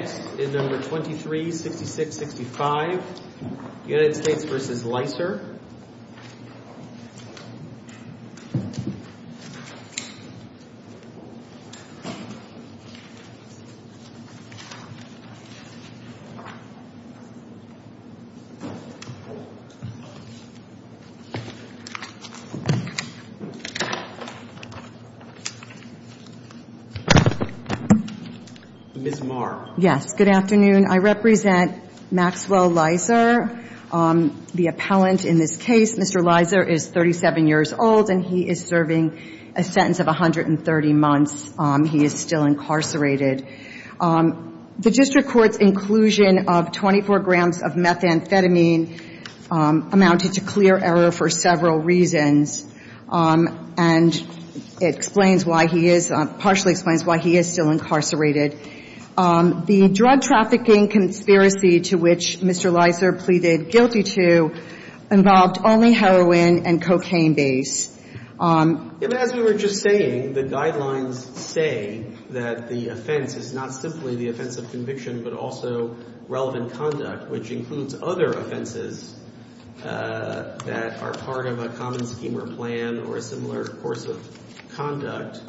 Next is No. 236665, United States v. Leiser. Ms. Marr. Yes, good afternoon. I represent Maxwell Leiser, the appellant in this case. Mr. Leiser is 37 years old and he is serving a sentence of 130 months. He is still incarcerated. The district court's inclusion of 24 grams of methamphetamine amounted to clear error for several reasons, and it explains why he is – partially explains why he is still incarcerated. The drug trafficking conspiracy to which Mr. Leiser pleaded guilty to involved only heroin and cocaine base. As we were just saying, the guidelines say that the offense is not simply the offense of conviction but also relevant conduct, which includes other offenses that are part of a common scheme or plan or a similar course of conduct.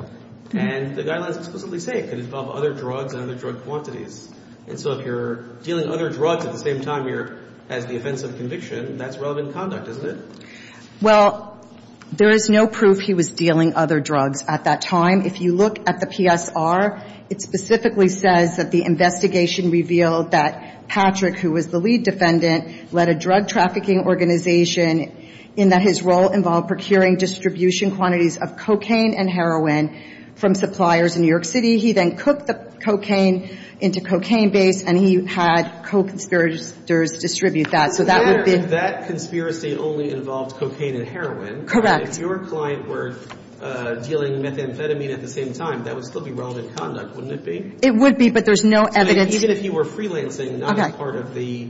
And the guidelines explicitly say it could involve other drugs and other drug quantities. And so if you're dealing other drugs at the same time you're – as the offense of conviction, that's relevant conduct, isn't it? Well, there is no proof he was dealing other drugs at that time. If you look at the PSR, it specifically says that the investigation revealed that Patrick, who was the lead defendant, led a drug trafficking organization in that his role involved procuring distribution quantities of cocaine and heroin from suppliers in New York City. He then cooked the cocaine into cocaine base and he had co-conspirators distribute that. So that would be – That conspiracy only involved cocaine and heroin. Correct. If your client were dealing methamphetamine at the same time, that would still be relevant conduct, wouldn't it be? It would be, but there's no evidence – Even if he were freelancing, not as part of the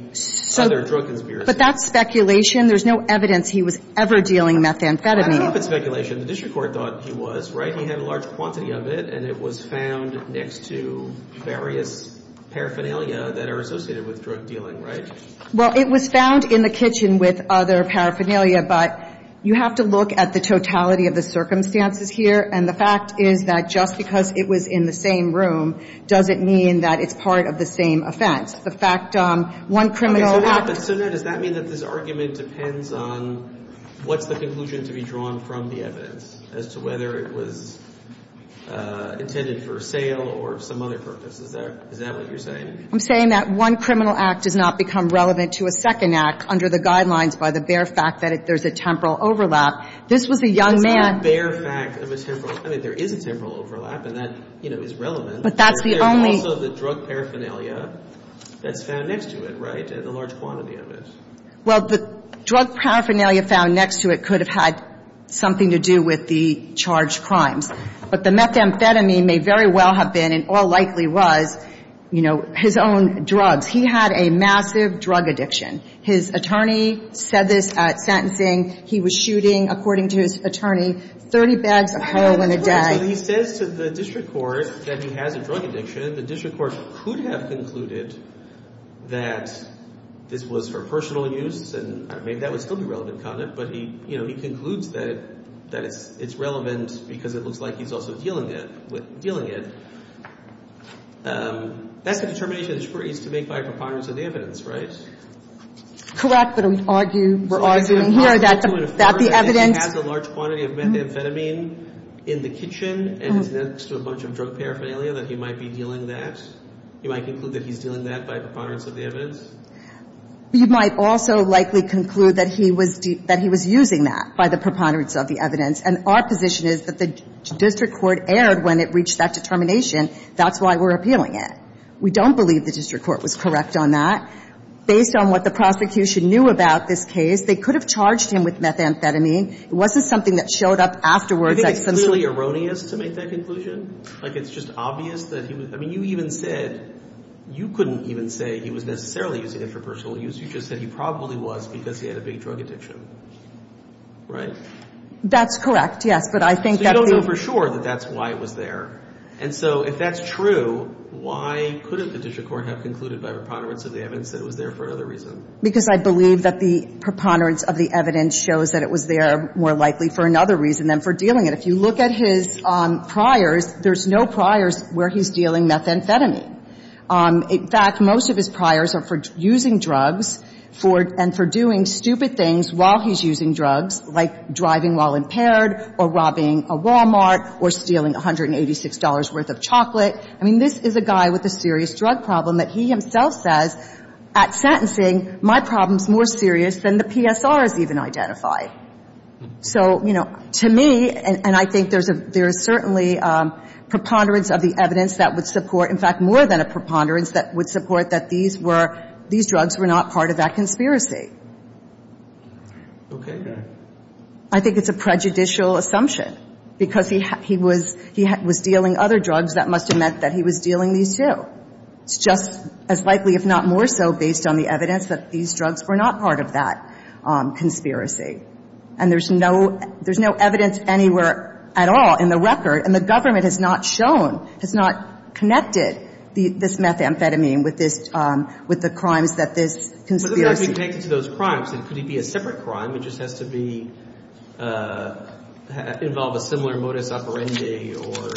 other drug conspiracy. But that's speculation. There's no evidence he was ever dealing methamphetamine. But it's speculation. The district court thought he was, right? He had a large quantity of it and it was found next to various paraphernalia that are associated with drug dealing, right? Well, it was found in the kitchen with other paraphernalia, but you have to look at the totality of the circumstances here. And the fact is that just because it was in the same room doesn't mean that it's part of the same offense. The fact – one criminal act – So now does that mean that this argument depends on what's the conclusion to be drawn from the evidence as to whether it was intended for sale or some other purpose? Is that what you're saying? I'm saying that one criminal act does not become relevant to a second act under the guidelines by the bare fact that there's a temporal overlap. This was a young man – It's not a bare fact of a temporal – I mean, there is a temporal overlap and that, you know, is relevant. But that's the only – There's also the drug paraphernalia that's found next to it, right? And a large quantity of it. Well, the drug paraphernalia found next to it could have had something to do with the charged crimes. But the methamphetamine may very well have been and all likely was, you know, his own drugs. He had a massive drug addiction. His attorney said this at sentencing. He was shooting, according to his attorney, 30 bags of heroin a day. He says to the district court that he has a drug addiction. The district court could have concluded that this was for personal use. And I mean, that would still be relevant conduct. But, you know, he concludes that it's relevant because it looks like he's also dealing it. That's the determination that the Supreme Court used to make by a preponderance of the evidence, right? Correct, but we're arguing here that the evidence – You might conclude that he's dealing that by preponderance of the evidence? You might also likely conclude that he was using that by the preponderance of the evidence. And our position is that the district court erred when it reached that determination. That's why we're appealing it. We don't believe the district court was correct on that. Based on what the prosecution knew about this case, they could have charged him with methamphetamine. It wasn't something that showed up afterwards at some – Is it really erroneous to make that conclusion? Like, it's just obvious that he was – I mean, you even said – you couldn't even say he was necessarily using it for personal use. You just said he probably was because he had a big drug addiction, right? That's correct, yes, but I think that the – So you don't know for sure that that's why it was there. And so if that's true, why couldn't the district court have concluded by preponderance of the evidence that it was there for another reason? Because I believe that the preponderance of the evidence shows that it was there more likely for another reason than for dealing it. If you look at his priors, there's no priors where he's dealing methamphetamine. In fact, most of his priors are for using drugs and for doing stupid things while he's using drugs, like driving while impaired or robbing a Walmart or stealing $186 worth of chocolate. I mean, this is a guy with a serious drug problem that he himself says, at sentencing, my problem's more serious than the PSR has even identified. So, you know, to me, and I think there's certainly preponderance of the evidence that would support – in fact, more than a preponderance that would support that these were – these drugs were not part of that conspiracy. Okay. I think it's a prejudicial assumption because he was dealing other drugs. That must have meant that he was dealing these, too. It's just as likely, if not more so, based on the evidence that these drugs were not part of that conspiracy. And there's no – there's no evidence anywhere at all in the record. And the government has not shown, has not connected this methamphetamine with this – with the crimes that this conspiracy – But if he actually takes it to those crimes, then could he be a separate crime? It just has to be – involve a similar modus operandi or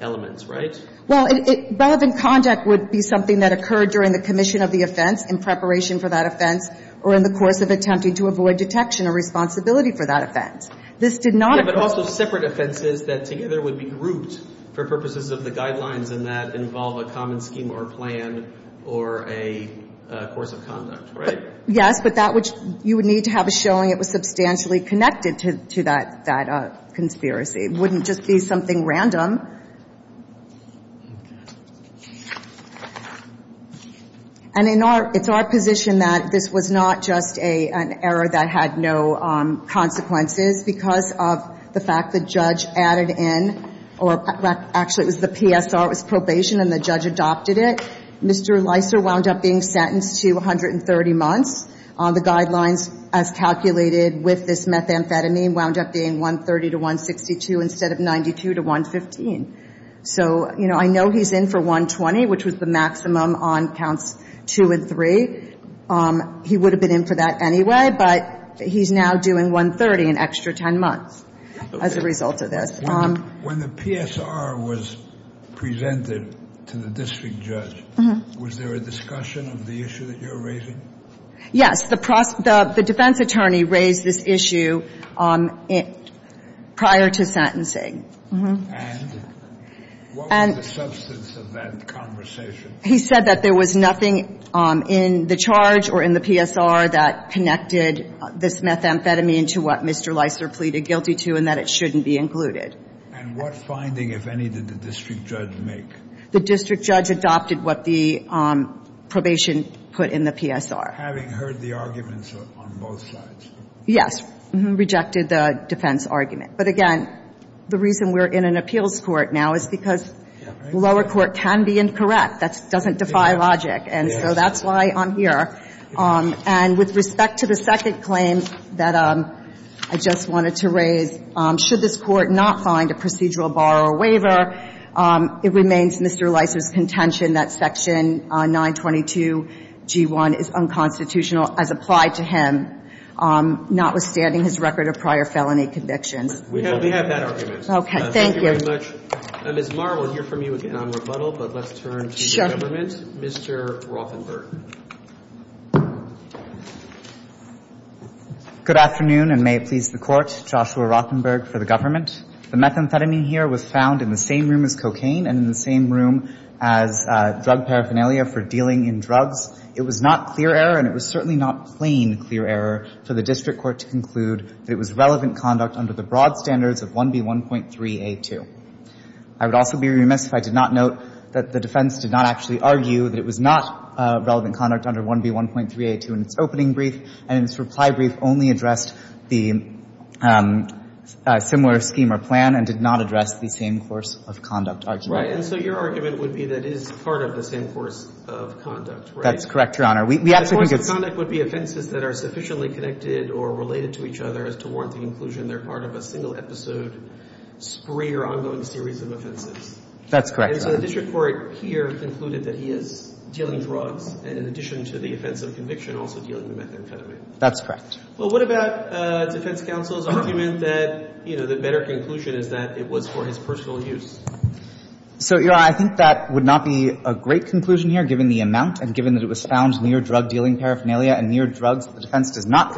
elements, right? Well, it – relevant conduct would be something that occurred during the commission of the offense, in preparation for that offense, or in the course of attempting to avoid detection or responsibility for that offense. This did not occur – Yeah, but also separate offenses that together would be grouped for purposes of the guidelines and that involve a common scheme or plan or a course of conduct, right? Yes, but that which you would need to have a showing it was substantially connected to that conspiracy. It wouldn't just be something random. And in our – it's our position that this was not just an error that had no consequences because of the fact the judge added in – or actually, it was the PSR, it was probation, and the judge adopted it. Mr. Leiser wound up being sentenced to 130 months. The guidelines, as calculated with this methamphetamine, wound up being 130 to 162 instead of 92 to 115. So, you know, I know he's in for 120, which was the maximum on counts two and three. He would have been in for that anyway, but he's now doing 130, an extra 10 months, as a result of this. When the PSR was presented to the district judge, was there a discussion of the issue that you're raising? Yes. The defense attorney raised this issue prior to sentencing. And what was the substance of that conversation? He said that there was nothing in the charge or in the PSR that connected this methamphetamine to what Mr. Leiser pleaded guilty to and that it shouldn't be included. And what finding, if any, did the district judge make? The district judge adopted what the probation put in the PSR. Having heard the arguments on both sides. Yes. Rejected the defense argument. But, again, the reason we're in an appeals court now is because lower court can be incorrect. That doesn't defy logic. And so that's why I'm here. And with respect to the second claim that I just wanted to raise, should this court not find a procedural bar or waiver, it remains Mr. Leiser's contention that Section 922G1 is unconstitutional as applied to him, notwithstanding his record of prior felony convictions. We have that argument. Okay. Thank you. Thank you very much. Ms. Marr, we'll hear from you again on rebuttal, but let's turn to the government. Mr. Rothenberg. Good afternoon, and may it please the Court. Joshua Rothenberg for the government. The methamphetamine here was found in the same room as cocaine and in the same room as drug paraphernalia for dealing in drugs. It was not clear error, and it was certainly not plain clear error for the district court to conclude that it was relevant conduct under the broad standards of 1B1.3a2. I would also be remiss if I did not note that the defense did not actually argue that it was not relevant conduct under 1B1.3a2 in its opening brief, and its reply brief only addressed the similar scheme or plan and did not address the same course of conduct argument. And so your argument would be that it is part of the same course of conduct, right? That's correct, Your Honor. We actually think it's — And the course of conduct would be offenses that are sufficiently connected or related to each other as to warrant the inclusion. They're part of a single-episode, spree or ongoing series of offenses. That's correct, Your Honor. And so the district court here concluded that he is dealing drugs, and in addition to the offense of conviction, also dealing with methamphetamine. That's correct. Well, what about defense counsel's argument that, you know, the better conclusion is that it was for his personal use? So, Your Honor, I think that would not be a great conclusion here, given the amount and given that it was found near drug-dealing paraphernalia and near drugs that the defense does not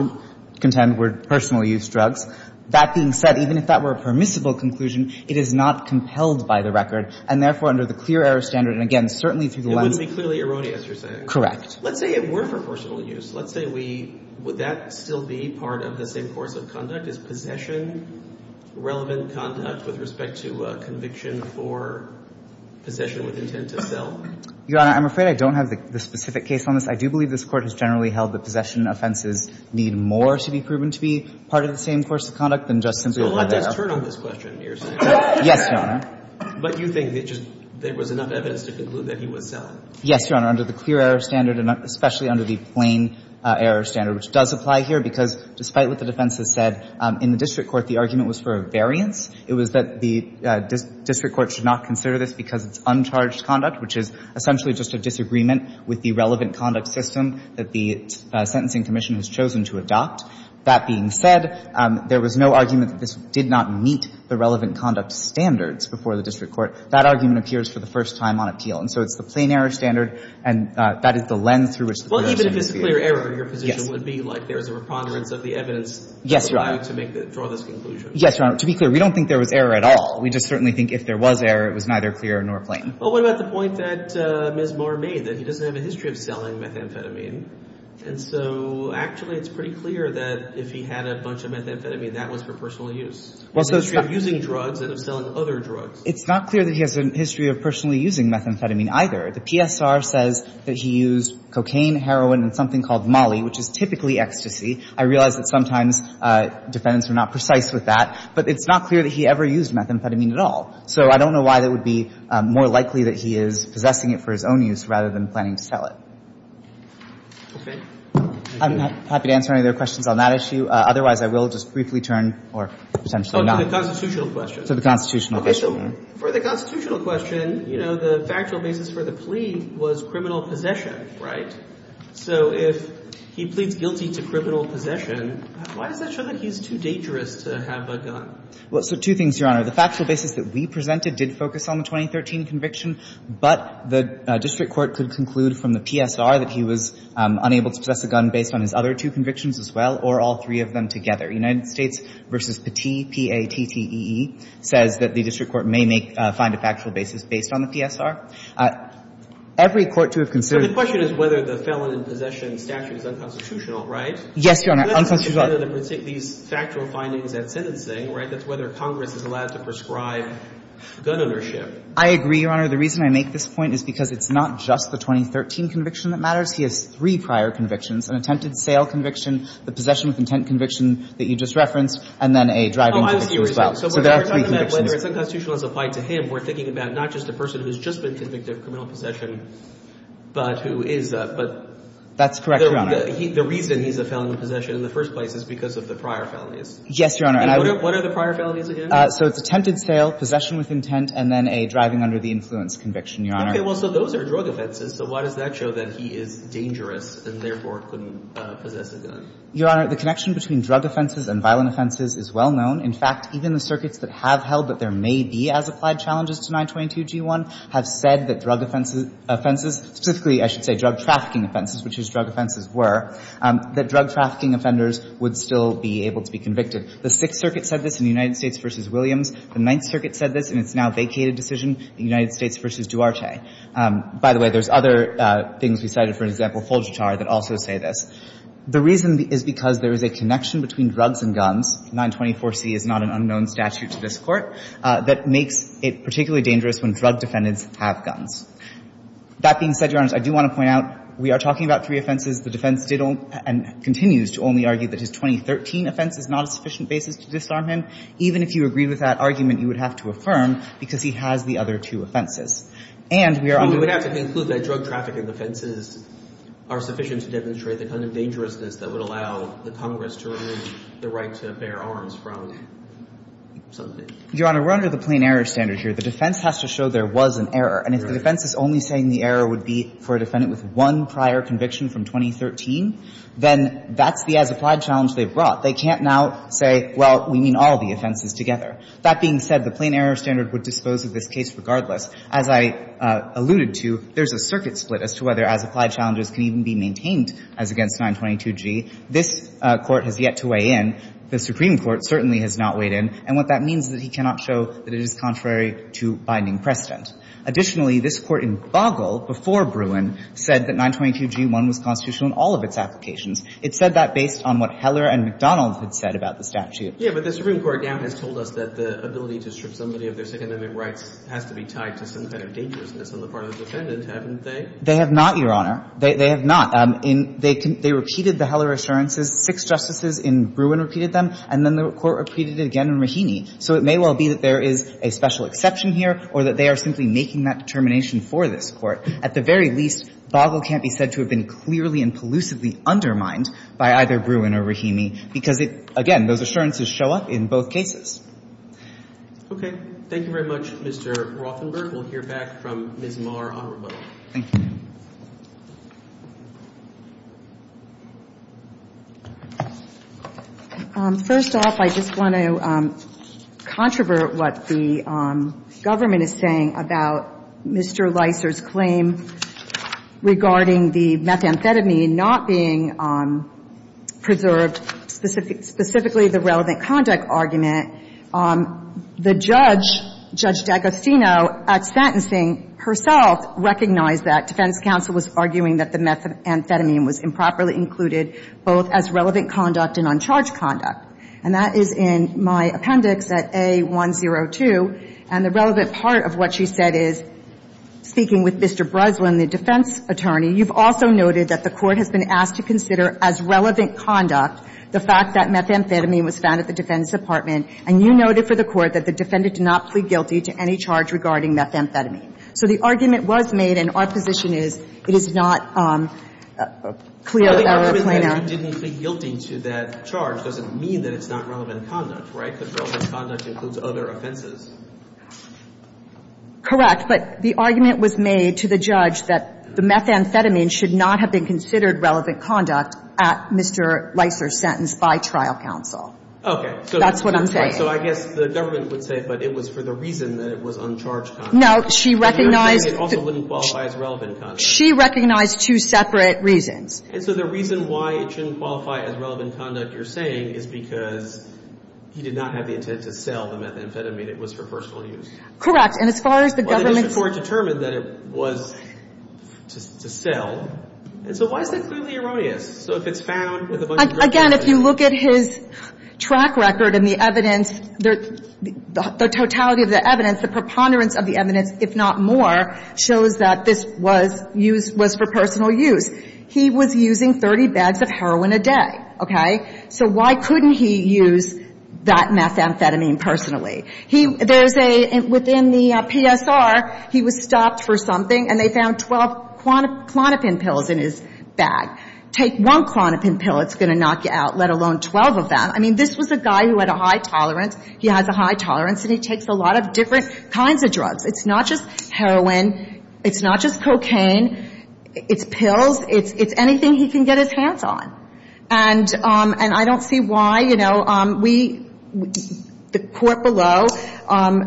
contend were personal use drugs. That being said, even if that were a permissible conclusion, it is not compelled by the record, and therefore, under the clear error standard, and again, certainly through the lens of — It wouldn't be clearly erroneous, you're saying. Correct. Let's say it were for personal use. Let's say we — would that still be part of the same course of conduct? Is possession relevant conduct with respect to a conviction for possession with intent to sell? Your Honor, I'm afraid I don't have the specific case on this. I do believe this Court has generally held that possession offenses need more to be proven to be part of the same course of conduct than just simply — So let's turn on this question, you're saying. Yes, Your Honor. But you think that just there was enough evidence to conclude that he was selling? Yes, Your Honor. Under the clear error standard and especially under the plain error standard, which does apply here, because despite what the defense has said, in the district court, the argument was for a variance. It was that the district court should not consider this because it's uncharged conduct, which is essentially just a disagreement with the relevant conduct system that the Sentencing Commission has chosen to adopt. That being said, there was no argument that this did not meet the relevant conduct standards before the district court. That argument appears for the first time on appeal. And so it's the plain error standard. And that is the length through which — Well, even if it's clear error, your position would be like there's a reponderance of the evidence — Yes, Your Honor. — to allow you to draw this conclusion. Yes, Your Honor. To be clear, we don't think there was error at all. We just certainly think if there was error, it was neither clear nor plain. Well, what about the point that Ms. Marr made, that he doesn't have a history of selling methamphetamine? And so actually it's pretty clear that if he had a bunch of methamphetamine, that was for personal use. Well, so it's not — It's a history of using drugs and of selling other drugs. It's not clear that he has a history of personally using methamphetamine either. The PSR says that he used cocaine, heroin, and something called molly, which is typically ecstasy. I realize that sometimes defendants are not precise with that. But it's not clear that he ever used methamphetamine at all. So I don't know why that would be more likely that he is possessing it for his own use rather than planning to sell it. Okay. I'm happy to answer any other questions on that issue. Otherwise, I will just briefly turn, or potentially not. To the constitutional question. To the constitutional question. So for the constitutional question, you know, the factual basis for the plea was criminal possession, right? So if he pleads guilty to criminal possession, why does that show that he's too dangerous to have a gun? Well, so two things, Your Honor. The factual basis that we presented did focus on the 2013 conviction. But the district court could conclude from the PSR that he was unable to possess a gun based on his other two convictions as well or all three of them together. United States v. Petit, P-A-T-T-E-E, says that the district court may make, find a factual basis based on the PSR. Every court to have considered. But the question is whether the felon in possession statute is unconstitutional, right? Yes, Your Honor. Unconstitutional. It doesn't depend on these factual findings at sentencing, right? That's whether Congress is allowed to prescribe gun ownership. I agree, Your Honor. The reason I make this point is because it's not just the 2013 conviction that matters. He has three prior convictions, an attempted sale conviction, the possession with intent conviction that you just referenced, and then a driving conviction as well. So there are three convictions. So when you're talking about whether it's unconstitutional as applied to him, we're thinking about not just a person who's just been convicted of criminal possession, but who is a, but. That's correct, Your Honor. The reason he's a felon in possession in the first place is because of the prior felonies. Yes, Your Honor. And what are the prior felonies again? So it's attempted sale, possession with intent, and then a driving under the influence conviction, Your Honor. Okay. Well, so those are drug offenses. So why does that show that he is dangerous and therefore couldn't possess a gun? Your Honor, the connection between drug offenses and violent offenses is well known. In fact, even the circuits that have held that there may be as applied challenges to 922g1 have said that drug offenses, specifically I should say drug trafficking offenses, which his drug offenses were, that drug trafficking offenders would still be able to be convicted. The Sixth Circuit said this in the United States v. Williams. The Ninth Circuit said this in its now vacated decision, the United States v. Duarte. By the way, there's other things we cited, for example, Fulgitar, that also say this. The reason is because there is a connection between drugs and guns. 924c is not an unknown statute to this Court that makes it particularly dangerous when drug defendants have guns. That being said, Your Honor, I do want to point out we are talking about three offenses. The defense did and continues to only argue that his 2013 offense is not a sufficient basis to disarm him. Even if you agree with that argument, you would have to affirm because he has the other two offenses. And we are under the rule that drug trafficking offenses are sufficient to demonstrate the kind of dangerousness that would allow the Congress to remove the right to bear arms from something. Your Honor, we're under the plain error standard here. The defense has to show there was an error. And if the defense is only saying the error would be for a defendant with one prior conviction from 2013, then that's the as-applied challenge they've brought. They can't now say, well, we mean all the offenses together. That being said, the plain error standard would dispose of this case regardless. As I alluded to, there's a circuit split as to whether as-applied challenges can even be maintained as against 922G. This Court has yet to weigh in. The Supreme Court certainly has not weighed in. And what that means is that he cannot show that it is contrary to binding precedent. Additionally, this Court in Boggle before Bruin said that 922G1 was constitutional in all of its applications. It said that based on what Heller and McDonald had said about the statute. Yeah, but the Supreme Court now has told us that the ability to strip somebody of their second amendment rights has to be tied to some kind of dangerousness on the part of the defendant, haven't they? They have not, Your Honor. They have not. They repeated the Heller assurances. Six justices in Bruin repeated them. And then the Court repeated it again in Rahimi. So it may well be that there is a special exception here or that they are simply making that determination for this Court. At the very least, Boggle can't be said to have been clearly and pollusively undermined by either Bruin or Rahimi because, again, those assurances show up in both cases. Thank you very much, Mr. Rothenberg. We'll hear back from Ms. Marr on rebuttal. Thank you. First off, I just want to controvert what the government is saying about Mr. Leiser's claim regarding the methamphetamine not being preserved, specifically the relevant conduct argument. The judge, Judge D'Agostino, at sentencing herself recognized that. Defense counsel was arguing that the methamphetamine was improperly included both as relevant conduct and uncharged conduct. And that is in my appendix at A102. And the relevant part of what she said is, speaking with Mr. Breslin, the defense attorney, you've also noted that the Court has been asked to consider as relevant conduct the fact that methamphetamine was found at the defense department. And you noted for the Court that the defendant did not plead guilty to any charge regarding methamphetamine. So the argument was made, and our position is it is not clear that our plaintiff Didn't plead guilty to that charge. Doesn't mean that it's not relevant conduct, right? Because relevant conduct includes other offenses. Correct. But the argument was made to the judge that the methamphetamine should not have been considered relevant conduct at Mr. Leiser's sentence by trial counsel. That's what I'm saying. So I guess the government would say, but it was for the reason that it was uncharged conduct. No, she recognized. It also wouldn't qualify as relevant conduct. She recognized two separate reasons. And so the reason why it shouldn't qualify as relevant conduct, you're saying, is because he did not have the intent to sell the methamphetamine. It was for personal use. Correct. And as far as the government's. Well, the district court determined that it was to sell. And so why is that clearly erroneous? So if it's found. Again, if you look at his track record and the evidence, the totality of the evidence, the preponderance of the evidence, if not more, shows that this was used, was for personal use. He was using 30 bags of heroin a day. Okay? So why couldn't he use that methamphetamine personally? He, there's a, within the PSR, he was stopped for something, and they found 12 Klonopin pills in his bag. Take one Klonopin pill, it's going to knock you out, let alone 12 of them. I mean, this was a guy who had a high tolerance. He has a high tolerance, and he takes a lot of different kinds of drugs. It's not just heroin. It's not just cocaine. It's pills. It's anything he can get his hands on. And I don't see why, you know, we, the court below,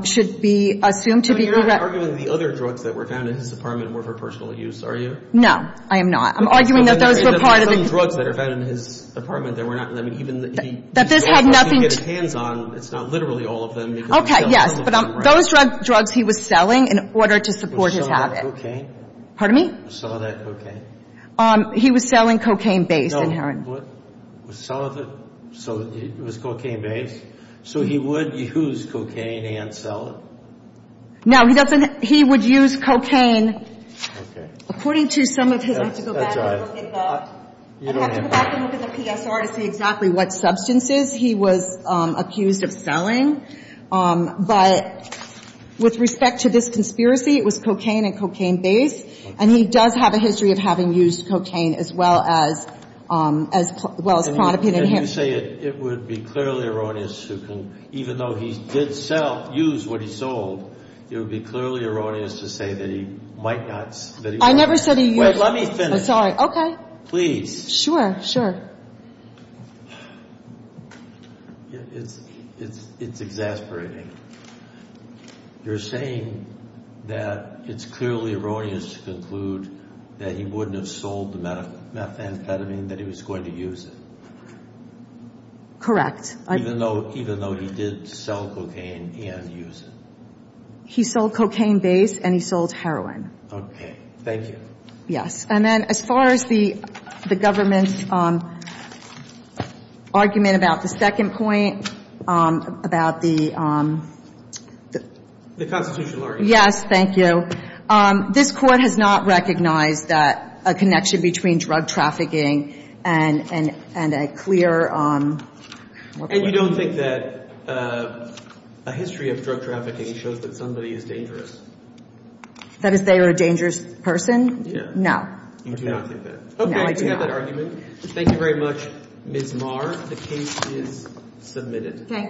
should be assumed to be. You're not arguing the other drugs that were found in his apartment were for personal use, are you? No, I am not. I'm arguing that those were part of the. There are some drugs that are found in his apartment that were not, I mean, even that That this had nothing. He could get his hands on. It's not literally all of them. Okay, yes. But those drugs he was selling in order to support his habit. Was some of that cocaine? Pardon me? Was some of that cocaine? He was selling cocaine-based heroin. No, what? Was some of it, so it was cocaine-based? So he would use cocaine and sell it? No, he doesn't. He would use cocaine. Okay. According to some of his. I have to go back and look at the. You don't have to. I have to go back and look at the PSR to see exactly what substances he was accused of selling. But with respect to this conspiracy, it was cocaine and cocaine-based. Okay. And he does have a history of having used cocaine as well as, as well as Pronapin in him. You're saying that it would be clearly erroneous to conclude, even though he did sell, use what he sold, it would be clearly erroneous to say that he might not. I never said he would. Wait, let me finish. I'm sorry. Okay. Please. Sure, sure. It's, it's, it's exasperating. You're saying that it's clearly erroneous to conclude that he wouldn't have sold the methamphetamine, that he was going to use it. Correct. Even though, even though he did sell cocaine and use it. He sold cocaine-based and he sold heroin. Okay. Thank you. Yes. And then as far as the government's argument about the second point, about the. The constitutional argument. Yes. Thank you. This Court has not recognized that a connection between drug trafficking and, and, and a clear. And you don't think that a history of drug trafficking shows that somebody is dangerous? That is, they are a dangerous person? Yeah. No. You do not think that? No, I do not. We do have that argument. Thank you very much, Ms. Marr. The case is submitted. Okay.